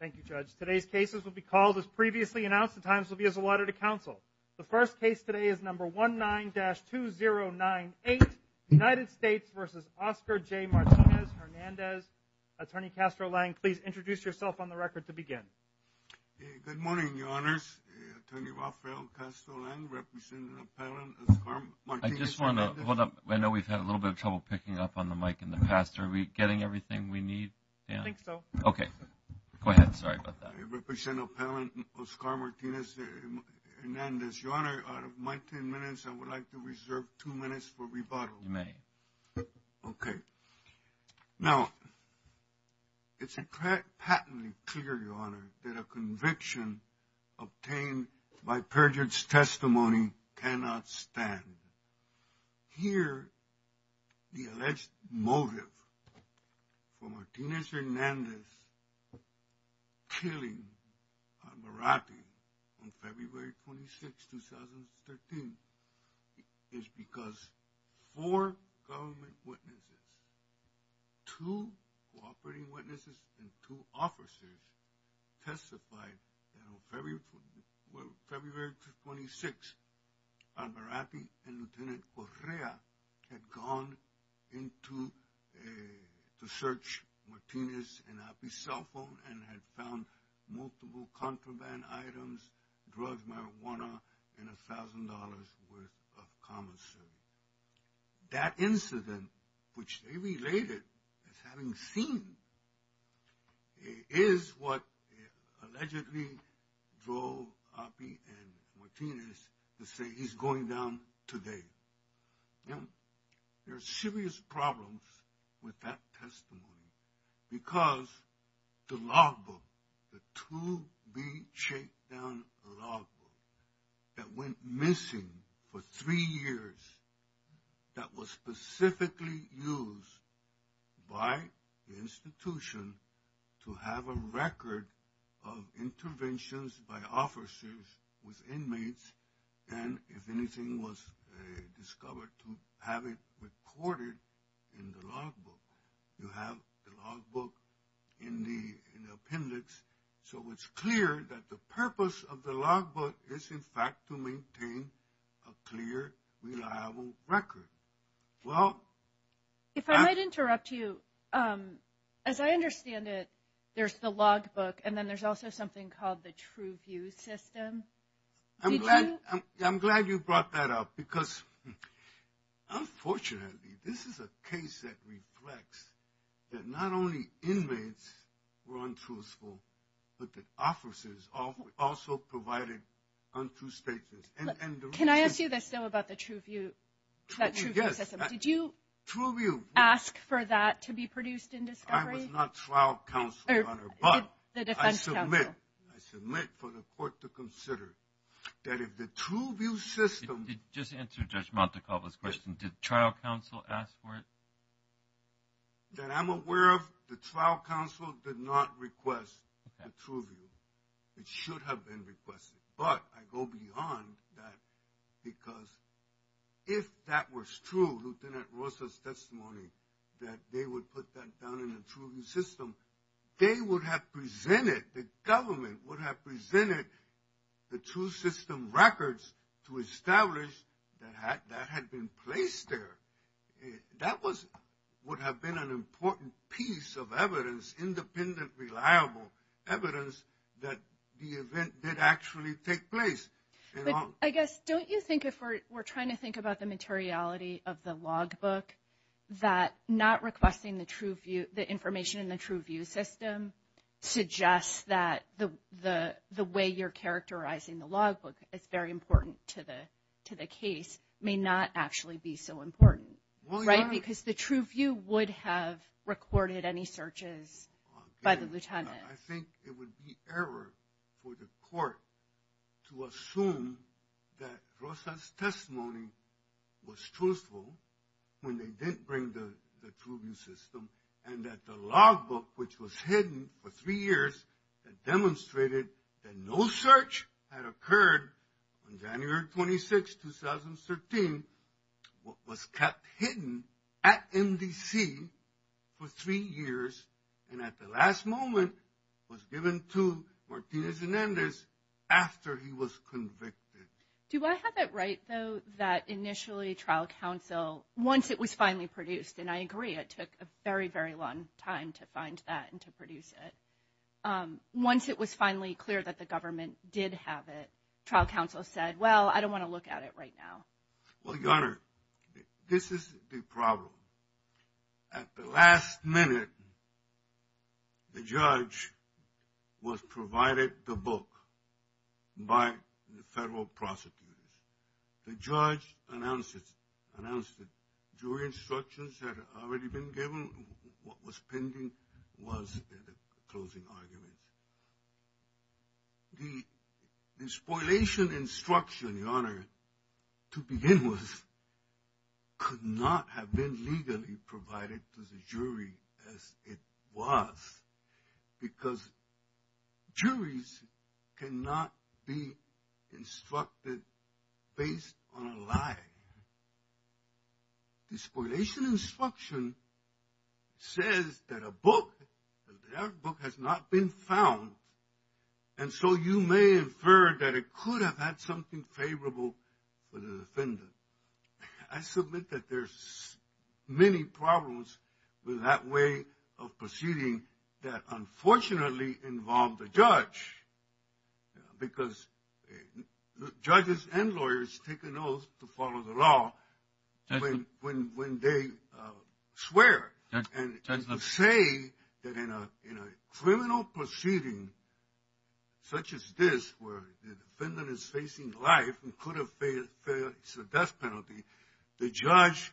Thank you, Judge. Today's cases will be called as previously announced. The times will be as allotted to counsel. The first case today is No. 19-2098, United States v. Oscar J. Martinez-Hernandez. Attorney Castro Lang, please introduce yourself on the record to begin. Good morning, Your Honors. Attorney Rafael Castro Lang, representing appellant Oscar Martinez-Hernandez. I know we've had a little bit of trouble picking up on the mic in the past. Are we getting everything we need? I think so. Okay. Go ahead. Sorry about that. I represent appellant Oscar Martinez-Hernandez. Your Honor, out of my ten minutes, I would like to reserve two minutes for rebuttal. You may. Okay. Now, it's patently clear, Your Honor, that a conviction obtained by perjured testimony cannot stand. Here, the alleged motive for Martinez-Hernandez killing Alvarate on February 26, 2013, is because four government witnesses, two cooperating witnesses, and two officers, testified that on February 26, Alvarate and Lieutenant Correa had gone to search Martinez and Api's cell phone and had found multiple contraband items, drugs, marijuana, and $1,000 worth of commonsense. That incident, which they related as having seen, is what allegedly drove Api and Martinez to say he's going down today. Now, there are serious problems with that testimony because the logbook, the to-be-shakedown logbook that went missing for three years, that was specifically used by the institution to have a record of interventions by officers with inmates and, if anything, was discovered to have it recorded in the logbook. You have the logbook in the appendix, so it's clear that the purpose of the logbook is, in fact, to maintain a clear, reliable record. Well... If I might interrupt you, as I understand it, there's the logbook, and then there's also something called the TrueView system. I'm glad you brought that up because, unfortunately, this is a case that reflects that not only inmates were untruthful, but that officers also provided untrue statements. Can I ask you this, though, about the TrueView system? Yes. Did you ask for that to be produced in discovery? I was not trial counsel, Your Honor, but I submit for the court to consider that if the TrueView system... Just answer Judge Montecalvo's question. Did trial counsel ask for it? That I'm aware of, the trial counsel did not request a TrueView. It should have been requested, but I go beyond that because if that was true, that they would put that down in the TrueView system, they would have presented, the government would have presented, the true system records to establish that that had been placed there. That would have been an important piece of evidence, independent, reliable evidence, that the event did actually take place. I guess, don't you think if we're trying to think about the materiality of the logbook, that not requesting the information in the TrueView system suggests that the way you're characterizing the logbook is very important to the case may not actually be so important, right? Well, Your Honor... Because the TrueView would have recorded any searches by the lieutenant. I think it would be error for the court to assume that Rosa's testimony was truthful when they didn't bring the TrueView system and that the logbook, which was hidden for three years, that demonstrated that no search had occurred on January 26, 2013, what was kept hidden at MDC for three years, and at the last moment, was given to Martinez and Endes after he was convicted. Do I have it right, though, that initially trial counsel, once it was finally produced, and I agree it took a very, very long time to find that and to produce it, once it was finally clear that the government did have it, trial counsel said, well, I don't want to look at it right now? Well, Your Honor, this is the problem. At the last minute, the judge was provided the book by the federal prosecutors. The judge announced it during instructions that had already been given. What was pending was the closing arguments. The spoliation instruction, Your Honor, to begin with, could not have been legally provided to the jury as it was, because juries cannot be instructed based on a lie. The spoliation instruction says that a book, that book has not been found, and so you may infer that it could have had something favorable for the defendant. I submit that there's many problems with that way of proceeding that unfortunately involved the judge, because judges and lawyers take an oath to follow the law when they swear. And to say that in a criminal proceeding such as this where the defendant is facing life and could have faced a death penalty, the judge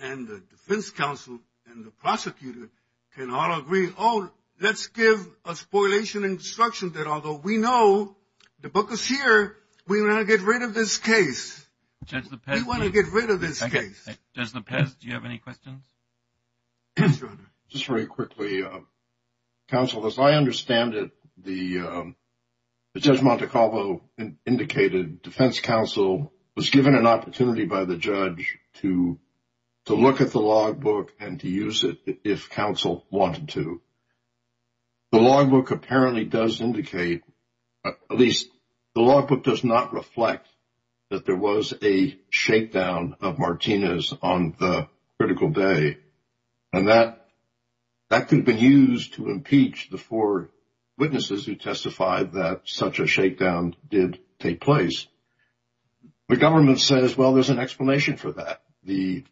and the defense counsel and the prosecutor can all agree, oh, let's give a spoliation instruction that although we know the book is here, we want to get rid of this case. We want to get rid of this case. Judge Lepez, do you have any questions? Yes, Your Honor. Just very quickly, counsel, as I understand it, Judge Montecalvo indicated defense counsel was given an opportunity by the judge to look at the logbook and to use it if counsel wanted to. The logbook apparently does indicate, at least the logbook does not reflect that there was a shakedown of Martinez on the critical day. And that could have been used to impeach the four witnesses who testified that such a shakedown did take place. The government says, well, there's an explanation for that. The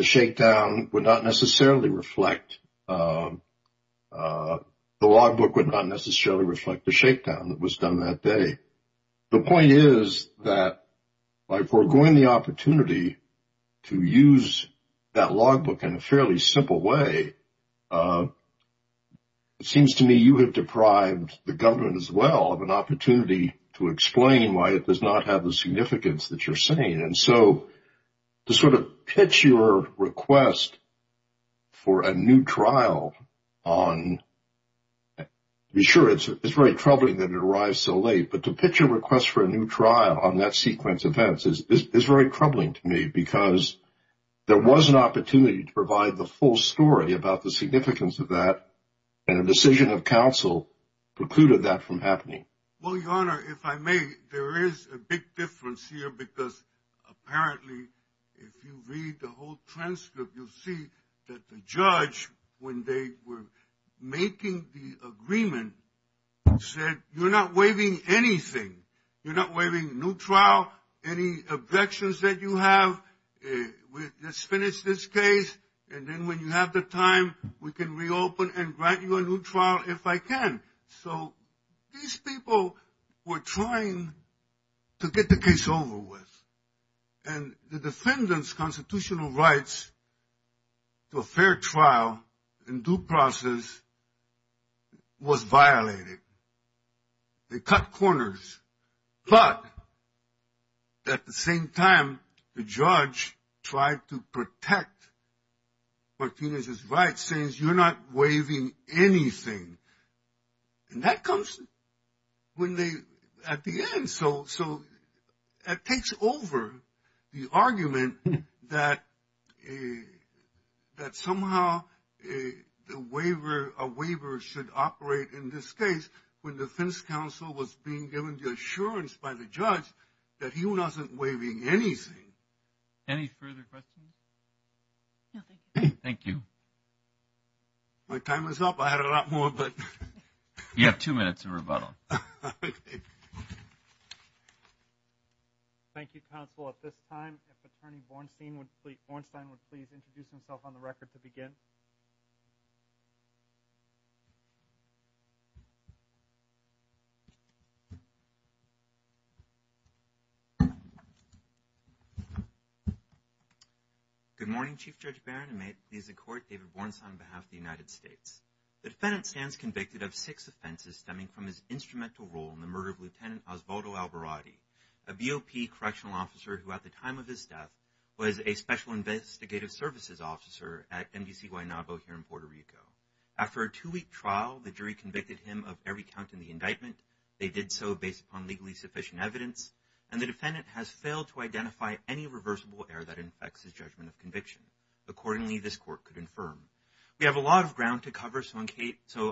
shakedown would not necessarily reflect the logbook would not necessarily reflect the shakedown that was done that day. The point is that by foregoing the opportunity to use that logbook in a fairly simple way, it seems to me you have deprived the government as well of an opportunity to explain why it does not have the significance that you're saying. And so to sort of pitch your request for a new trial on – sure, it's very troubling that it arrives so late, but to pitch a request for a new trial on that sequence of events is very troubling to me because there was an opportunity to provide the full story about the significance of that, and a decision of counsel precluded that from happening. Well, Your Honor, if I may, there is a big difference here because apparently if you read the whole transcript, you'll see that the judge, when they were making the agreement, said you're not waiving anything. You're not waiving a new trial, any objections that you have. Let's finish this case, and then when you have the time, we can reopen and grant you a new trial if I can. So these people were trying to get the case over with, and the defendant's constitutional rights to a fair trial in due process was violated. They cut corners, but at the same time, the judge tried to protect Martinez's rights, saying you're not waiving anything, and that comes when they – at the end. So it takes over the argument that somehow a waiver should operate in this case when defense counsel was being given the assurance by the judge that he wasn't waiving anything. Any further questions? No, thank you. Thank you. My time is up. I had a lot more, but – You have two minutes to rebuttal. Okay. Thank you, counsel. At this time, if Attorney Bornstein would please introduce himself on the record to begin. Good morning, Chief Judge Barron, and may it please the Court, David Bornstein on behalf of the United States. The defendant stands convicted of six offenses stemming from his instrumental role in the murder of Lieutenant Osvaldo Alvarade, a BOP correctional officer who, at the time of his death, was a special investigative services officer at MDC Guaynabo here in Puerto Rico. After a two-week trial, the jury convicted him of every count in the indictment. They did so based upon legally sufficient evidence, and the defendant has failed to identify any reversible error that infects his judgment of conviction. Accordingly, this Court could infirm. We have a lot of ground to cover, so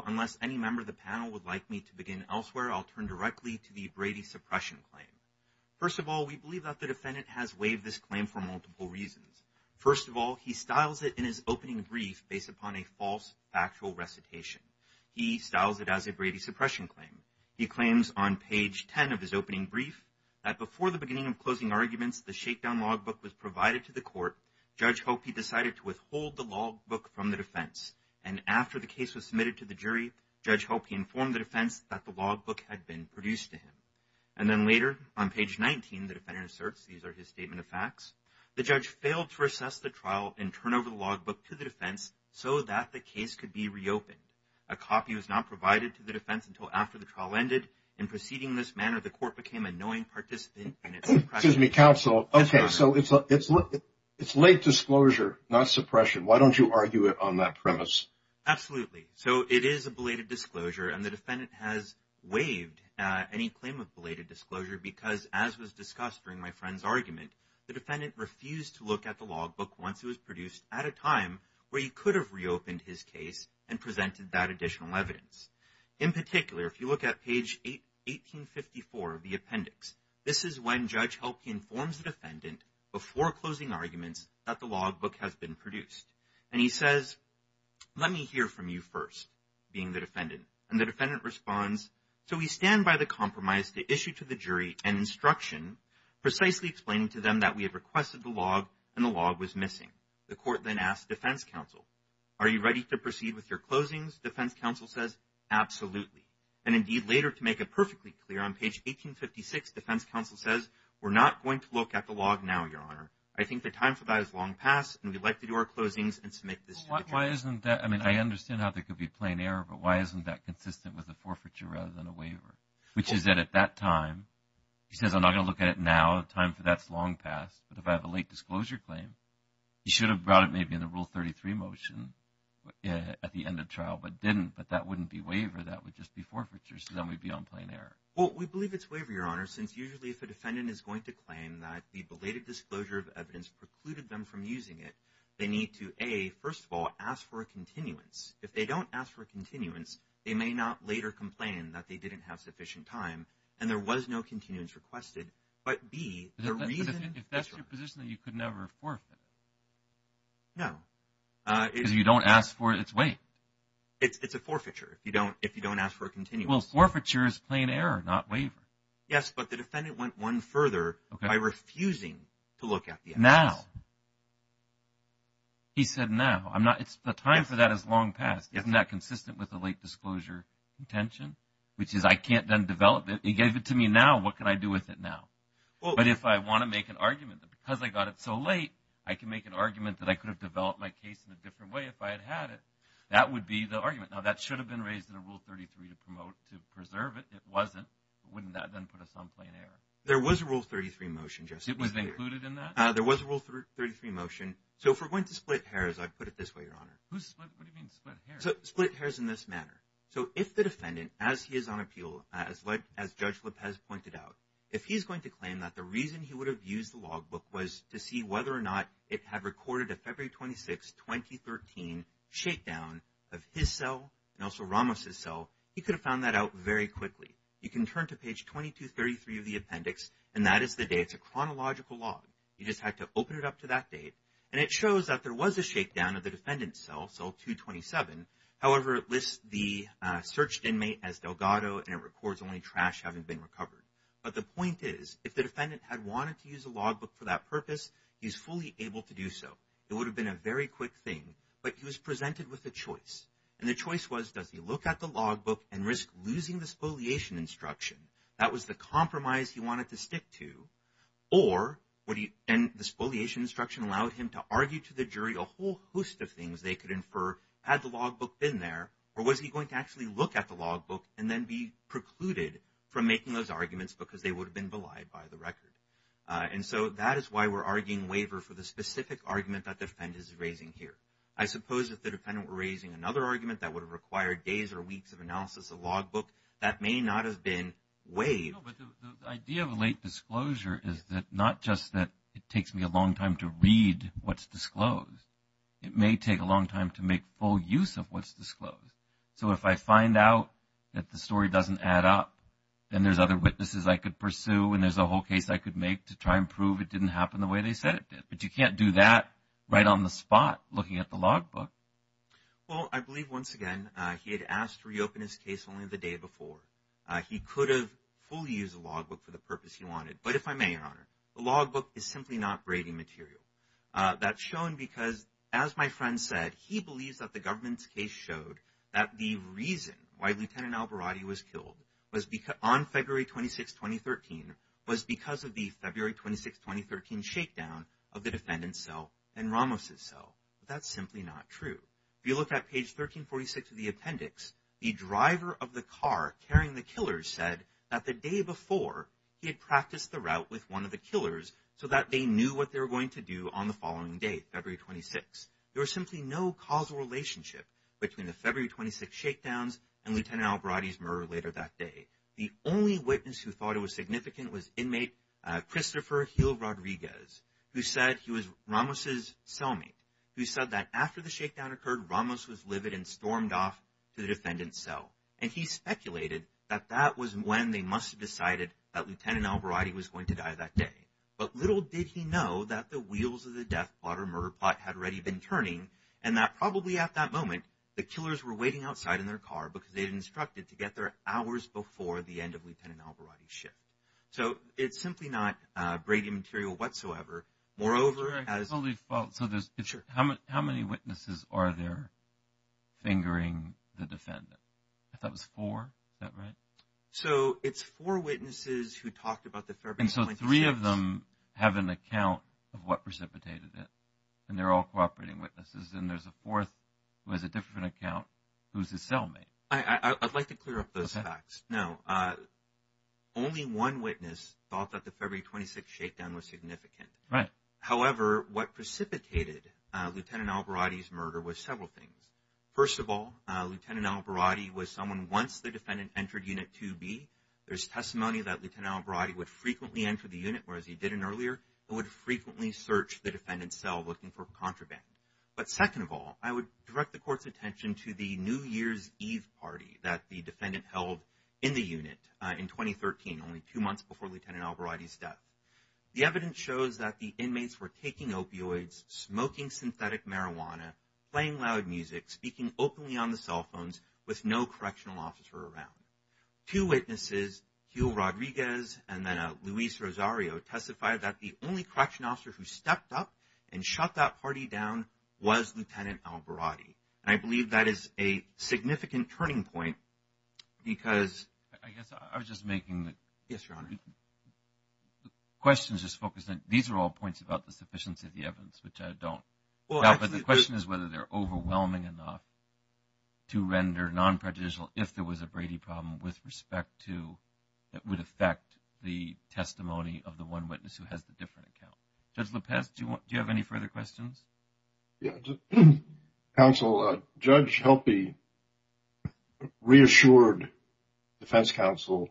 unless any member of the panel would like me to begin elsewhere, I'll turn directly to the Brady suppression claim. First of all, we believe that the defendant has waived this claim for multiple reasons. First of all, he styles it in his opening brief based upon a false factual recitation. He styles it as a Brady suppression claim. He claims on page 10 of his opening brief that, before the beginning of closing arguments, the shakedown logbook was provided to the court. Judge hoped he decided to withhold the logbook from the defense, and after the case was submitted to the jury, Judge hoped he informed the defense that the logbook had been produced to him. And then later, on page 19, the defendant asserts, these are his statement of facts, the judge failed to recess the trial and turn over the logbook to the defense so that the case could be reopened. A copy was not provided to the defense until after the trial ended. In proceeding in this manner, the court became a knowing participant in its suppression. Excuse me, counsel. Okay, so it's late disclosure, not suppression. Why don't you argue it on that premise? Absolutely. So it is a belated disclosure, and the defendant has waived any claim of belated disclosure because, as was discussed during my friend's argument, the defendant refused to look at the logbook once it was produced at a time where he could have reopened his case and presented that additional evidence. In particular, if you look at page 1854 of the appendix, this is when Judge Hope informs the defendant before closing arguments that the logbook has been produced. And he says, let me hear from you first, being the defendant. And the defendant responds, so we stand by the compromise to issue to the jury an instruction precisely explaining to them that we had requested the log and the log was missing. The court then asks defense counsel, are you ready to proceed with your closings? Defense counsel says, absolutely. And indeed, later, to make it perfectly clear, on page 1856, defense counsel says, we're not going to look at the log now, Your Honor. I think the time for that is long past, and we'd like to do our closings and submit this to the jury. Why isn't that? I mean, I understand how there could be a plain error, but why isn't that consistent with a forfeiture rather than a waiver? Which is that at that time, he says, I'm not going to look at it now. The time for that is long past. But if I have a late disclosure claim, he should have brought it maybe in the Rule 33 motion at the end of trial, but didn't. But that wouldn't be waiver. That would just be forfeiture. So then we'd be on plain error. Well, we believe it's waiver, Your Honor, since usually if a defendant is going to claim that the belated disclosure of evidence precluded them from using it, they need to, A, first of all, ask for a continuance. If they don't ask for a continuance, they may not later complain that they didn't have sufficient time and there was no continuance requested. But, B, the reason. But if that's your position, then you could never forfeit. No. Because you don't ask for its weight. It's a forfeiture if you don't ask for a continuance. Well, forfeiture is plain error, not waiver. Yes, but the defendant went one further by refusing to look at the evidence. Now. He said now. The time for that is long past. Isn't that consistent with a late disclosure contention? Which is I can't then develop it. He gave it to me now. What can I do with it now? But if I want to make an argument that because I got it so late, I can make an argument that I could have developed my case in a different way if I had had it, that would be the argument. Now, that should have been raised in Rule 33 to preserve it. It wasn't. Wouldn't that then put us on plain error? There was a Rule 33 motion. It was included in that? There was a Rule 33 motion. So if we're going to split hairs, I'd put it this way, Your Honor. What do you mean split hairs? Split hairs in this manner. So if the defendant, as he is on appeal, as Judge Lopez pointed out, if he's going to claim that the reason he would have used the logbook was to see whether or not it had recorded a February 26, 2013, shakedown of his cell and also Ramos' cell, he could have found that out very quickly. You can turn to page 2233 of the appendix, and that is the date. It's a chronological log. You just have to open it up to that date. And it shows that there was a shakedown of the defendant's cell, cell 227. However, it lists the searched inmate as Delgado, and it records only trash having been recovered. But the point is, if the defendant had wanted to use the logbook for that purpose, he's fully able to do so. It would have been a very quick thing, but he was presented with a choice. And the choice was, does he look at the logbook and risk losing the spoliation instruction? That was the compromise he wanted to stick to. Or, and the spoliation instruction allowed him to argue to the jury a whole host of things they could infer had the logbook been there, or was he going to actually look at the logbook and then be precluded from making those arguments because they would have been belied by the record. And so that is why we're arguing waiver for the specific argument that the defendant is raising here. I suppose if the defendant were raising another argument that would have required days or weeks of analysis of the logbook, that may not have been waived. No, but the idea of a late disclosure is not just that it takes me a long time to read what's disclosed. It may take a long time to make full use of what's disclosed. So if I find out that the story doesn't add up, then there's other witnesses I could pursue and there's a whole case I could make to try and prove it didn't happen the way they said it did. But you can't do that right on the spot looking at the logbook. Well, I believe, once again, he had asked to reopen his case only the day before. He could have fully used the logbook for the purpose he wanted. But if I may, Your Honor, the logbook is simply not grading material. That's shown because, as my friend said, he believes that the government's case showed that the reason why Lieutenant Alvarado was killed on February 26, 2013, was because of the February 26, 2013, shakedown of the defendant's cell and Ramos's cell. That's simply not true. If you look at page 1346 of the appendix, the driver of the car carrying the killer said that the day before he had practiced the route with one of the killers so that they knew what they were going to do on the following day, February 26. There was simply no causal relationship between the February 26 shakedowns and Lieutenant Alvarado's murder later that day. The only witness who thought it was significant was inmate Christopher Gil Rodriguez, who said he was Ramos's cellmate, who said that after the shakedown occurred, Ramos was livid and stormed off to the defendant's cell. And he speculated that that was when they must have decided that Lieutenant Alvarado was going to die that day. But little did he know that the wheels of the death plot or murder plot had already been turning and that probably at that moment the killers were waiting outside in their car because they had instructed to get there hours before the end of Lieutenant Alvarado's shift. So it's simply not grading material whatsoever. So how many witnesses are there fingering the defendant? I thought it was four. Is that right? So it's four witnesses who talked about the February 26th. And so three of them have an account of what precipitated it, and they're all cooperating witnesses. And there's a fourth who has a different account who's his cellmate. I'd like to clear up those facts. No. Only one witness thought that the February 26th shakedown was significant. Right. However, what precipitated Lieutenant Alvarado's murder was several things. First of all, Lieutenant Alvarado was someone once the defendant entered Unit 2B. There's testimony that Lieutenant Alvarado would frequently enter the unit, whereas he didn't earlier, and would frequently search the defendant's cell looking for contraband. But second of all, I would direct the Court's attention to the New Year's Eve party that the defendant held in the unit in 2013, only two months before Lieutenant Alvarado's death. The evidence shows that the inmates were taking opioids, smoking synthetic marijuana, playing loud music, speaking openly on the cell phones, with no correctional officer around. Two witnesses, Hugh Rodriguez and then Luis Rosario, testified that the only correctional officer who stepped up and shut that party down was Lieutenant Alvarado. And I believe that is a significant turning point because – I guess I was just making – Yes, Your Honor. The question is just focused on – these are all points about the sufficiency of the evidence, which I don't – Well, actually – But the question is whether they're overwhelming enough to render non-prejudicial if there was a Brady problem with respect to – that would affect the testimony of the one witness who has the different account. Judge Lopez, do you have any further questions? Yeah. Counsel, Judge Helpe reassured defense counsel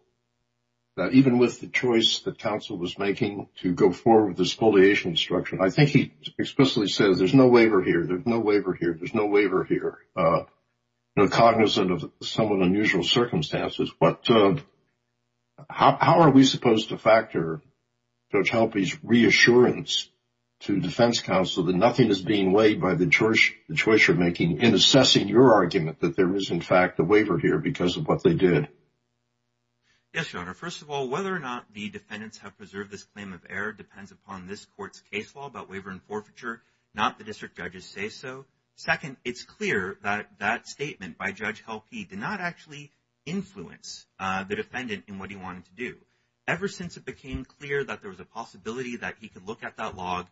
that even with the choice that counsel was making to go forward with the spoliation instruction, I think he explicitly said, there's no waiver here, there's no waiver here, there's no waiver here, cognizant of some of the unusual circumstances. But how are we supposed to factor Judge Helpe's reassurance to defense counsel that nothing is being weighed by the choice you're making in assessing your argument that there is, in fact, a waiver here because of what they did? Yes, Your Honor. First of all, whether or not the defendants have preserved this claim of error depends upon this court's case law about waiver and forfeiture, not the district judges' say-so. Second, it's clear that that statement by Judge Helpe did not actually influence the defendant in what he wanted to do. Ever since it became clear that there was a possibility that he could look at that log,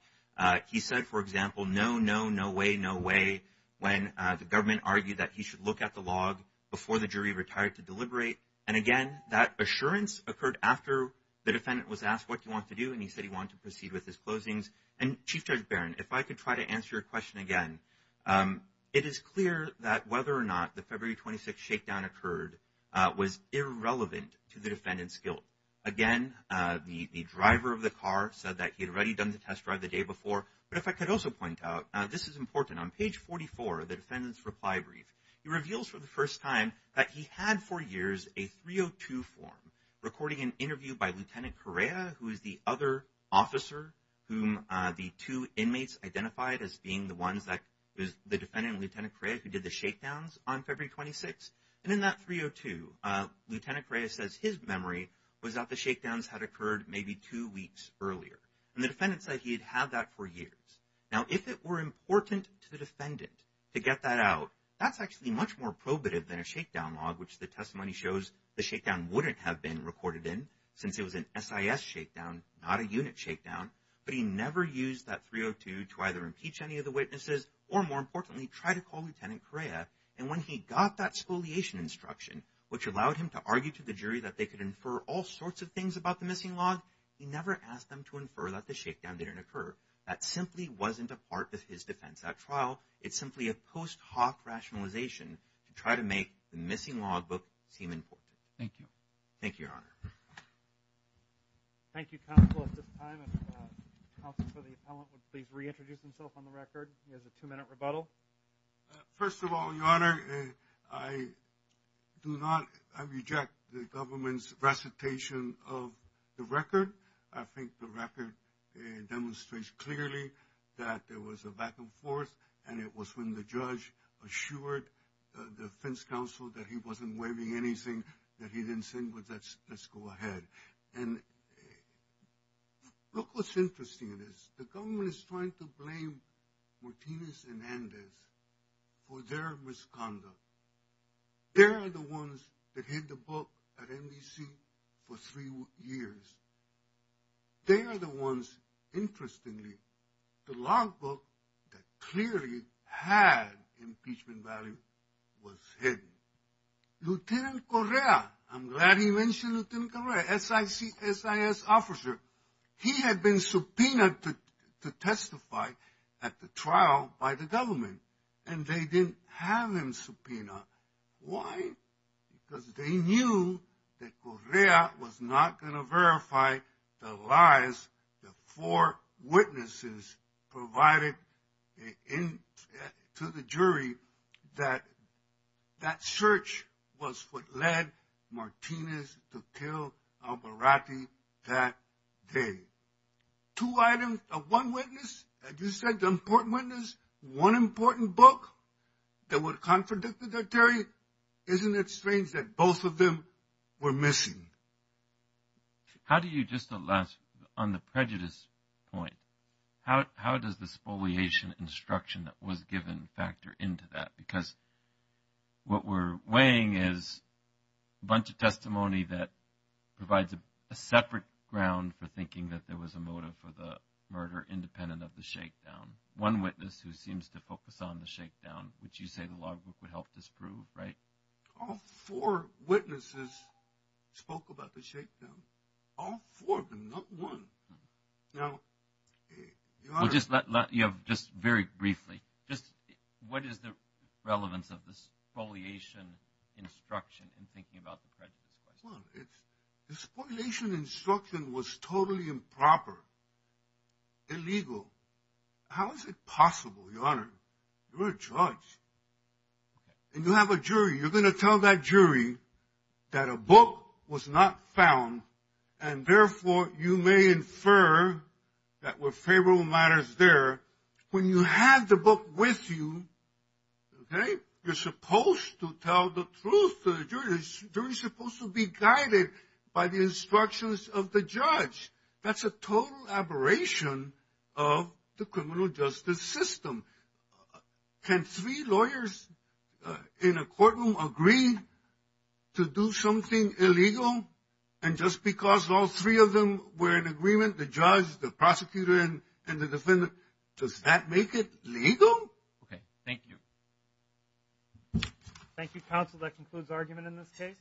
he said, for example, no, no, no way, no way, when the government argued that he should look at the log before the jury retired to deliberate. And, again, that assurance occurred after the defendant was asked what he wanted to do and he said he wanted to proceed with his closings. And, Chief Judge Barron, if I could try to answer your question again, it is clear that whether or not the February 26th shakedown occurred was irrelevant to the defendant's guilt. Again, the driver of the car said that he had already done the test drive the day before. But if I could also point out, this is important, on page 44 of the defendant's reply brief, he reveals for the first time that he had for years a 302 form recording an interview by Lieutenant Correa, who is the other officer whom the two inmates identified as being the ones that, it was the defendant and Lieutenant Correa who did the shakedowns on February 26th. And in that 302, Lieutenant Correa says his memory was that the shakedowns had occurred maybe two weeks earlier. And the defendant said he had had that for years. Now, if it were important to the defendant to get that out, that's actually much more probative than a shakedown log, which the testimony shows the shakedown wouldn't have been recorded in since it was an SIS shakedown, not a unit shakedown. But he never used that 302 to either impeach any of the witnesses or, more importantly, try to call Lieutenant Correa. And when he got that spoliation instruction, which allowed him to argue to the jury that they could infer all sorts of things about the missing log, he never asked them to infer that the shakedown didn't occur. That simply wasn't a part of his defense at trial. It's simply a post hoc rationalization to try to make the missing log book seem important. Thank you. Thank you, Your Honor. Thank you, counsel, at this time. Counsel for the appellant would please reintroduce himself on the record. He has a two-minute rebuttal. First of all, Your Honor, I do not – I reject the government's recitation of the record. I think the record demonstrates clearly that there was a back and forth, and it was when the judge assured the defense counsel that he wasn't waiving anything that he didn't send, but let's go ahead. And look what's interesting in this. The government is trying to blame Martinez and Andes for their misconduct. They're the ones that hid the book at NBC for three years. They're the ones, interestingly, the log book that clearly had impeachment value was hidden. Lieutenant Correa, I'm glad he mentioned Lieutenant Correa, SIS officer, he had been subpoenaed to testify at the trial by the government, and they didn't have him subpoenaed. Why? Because they knew that Correa was not going to verify the lies the four witnesses provided to the jury that that search was what led Martinez to kill Albarrate that day. Two items of one witness, as you said, the important witness, one important book, that would contradict the jury. Isn't it strange that both of them were missing? How do you just – on the prejudice point, how does this foliation instruction that was given factor into that? Because what we're weighing is a bunch of testimony that provides a separate ground for thinking that there was a motive for the murder independent of the shakedown. One witness who seems to focus on the shakedown, which you say the log book would help disprove, right? All four witnesses spoke about the shakedown, all four of them, not one. Just very briefly, what is the relevance of this foliation instruction in thinking about the prejudice? Well, the foliation instruction was totally improper, illegal. How is it possible, Your Honor? You're a judge, and you have a jury. You're going to tell that jury that a book was not found, and therefore you may infer that were favorable matters there. When you have the book with you, okay, you're supposed to tell the truth to the jury. The jury's supposed to be guided by the instructions of the judge. That's a total aberration of the criminal justice system. Can three lawyers in a courtroom agree to do something illegal? And just because all three of them were in agreement, the judge, the prosecutor, and the defendant, does that make it legal? Okay, thank you. Thank you, counsel. That concludes the argument in this case.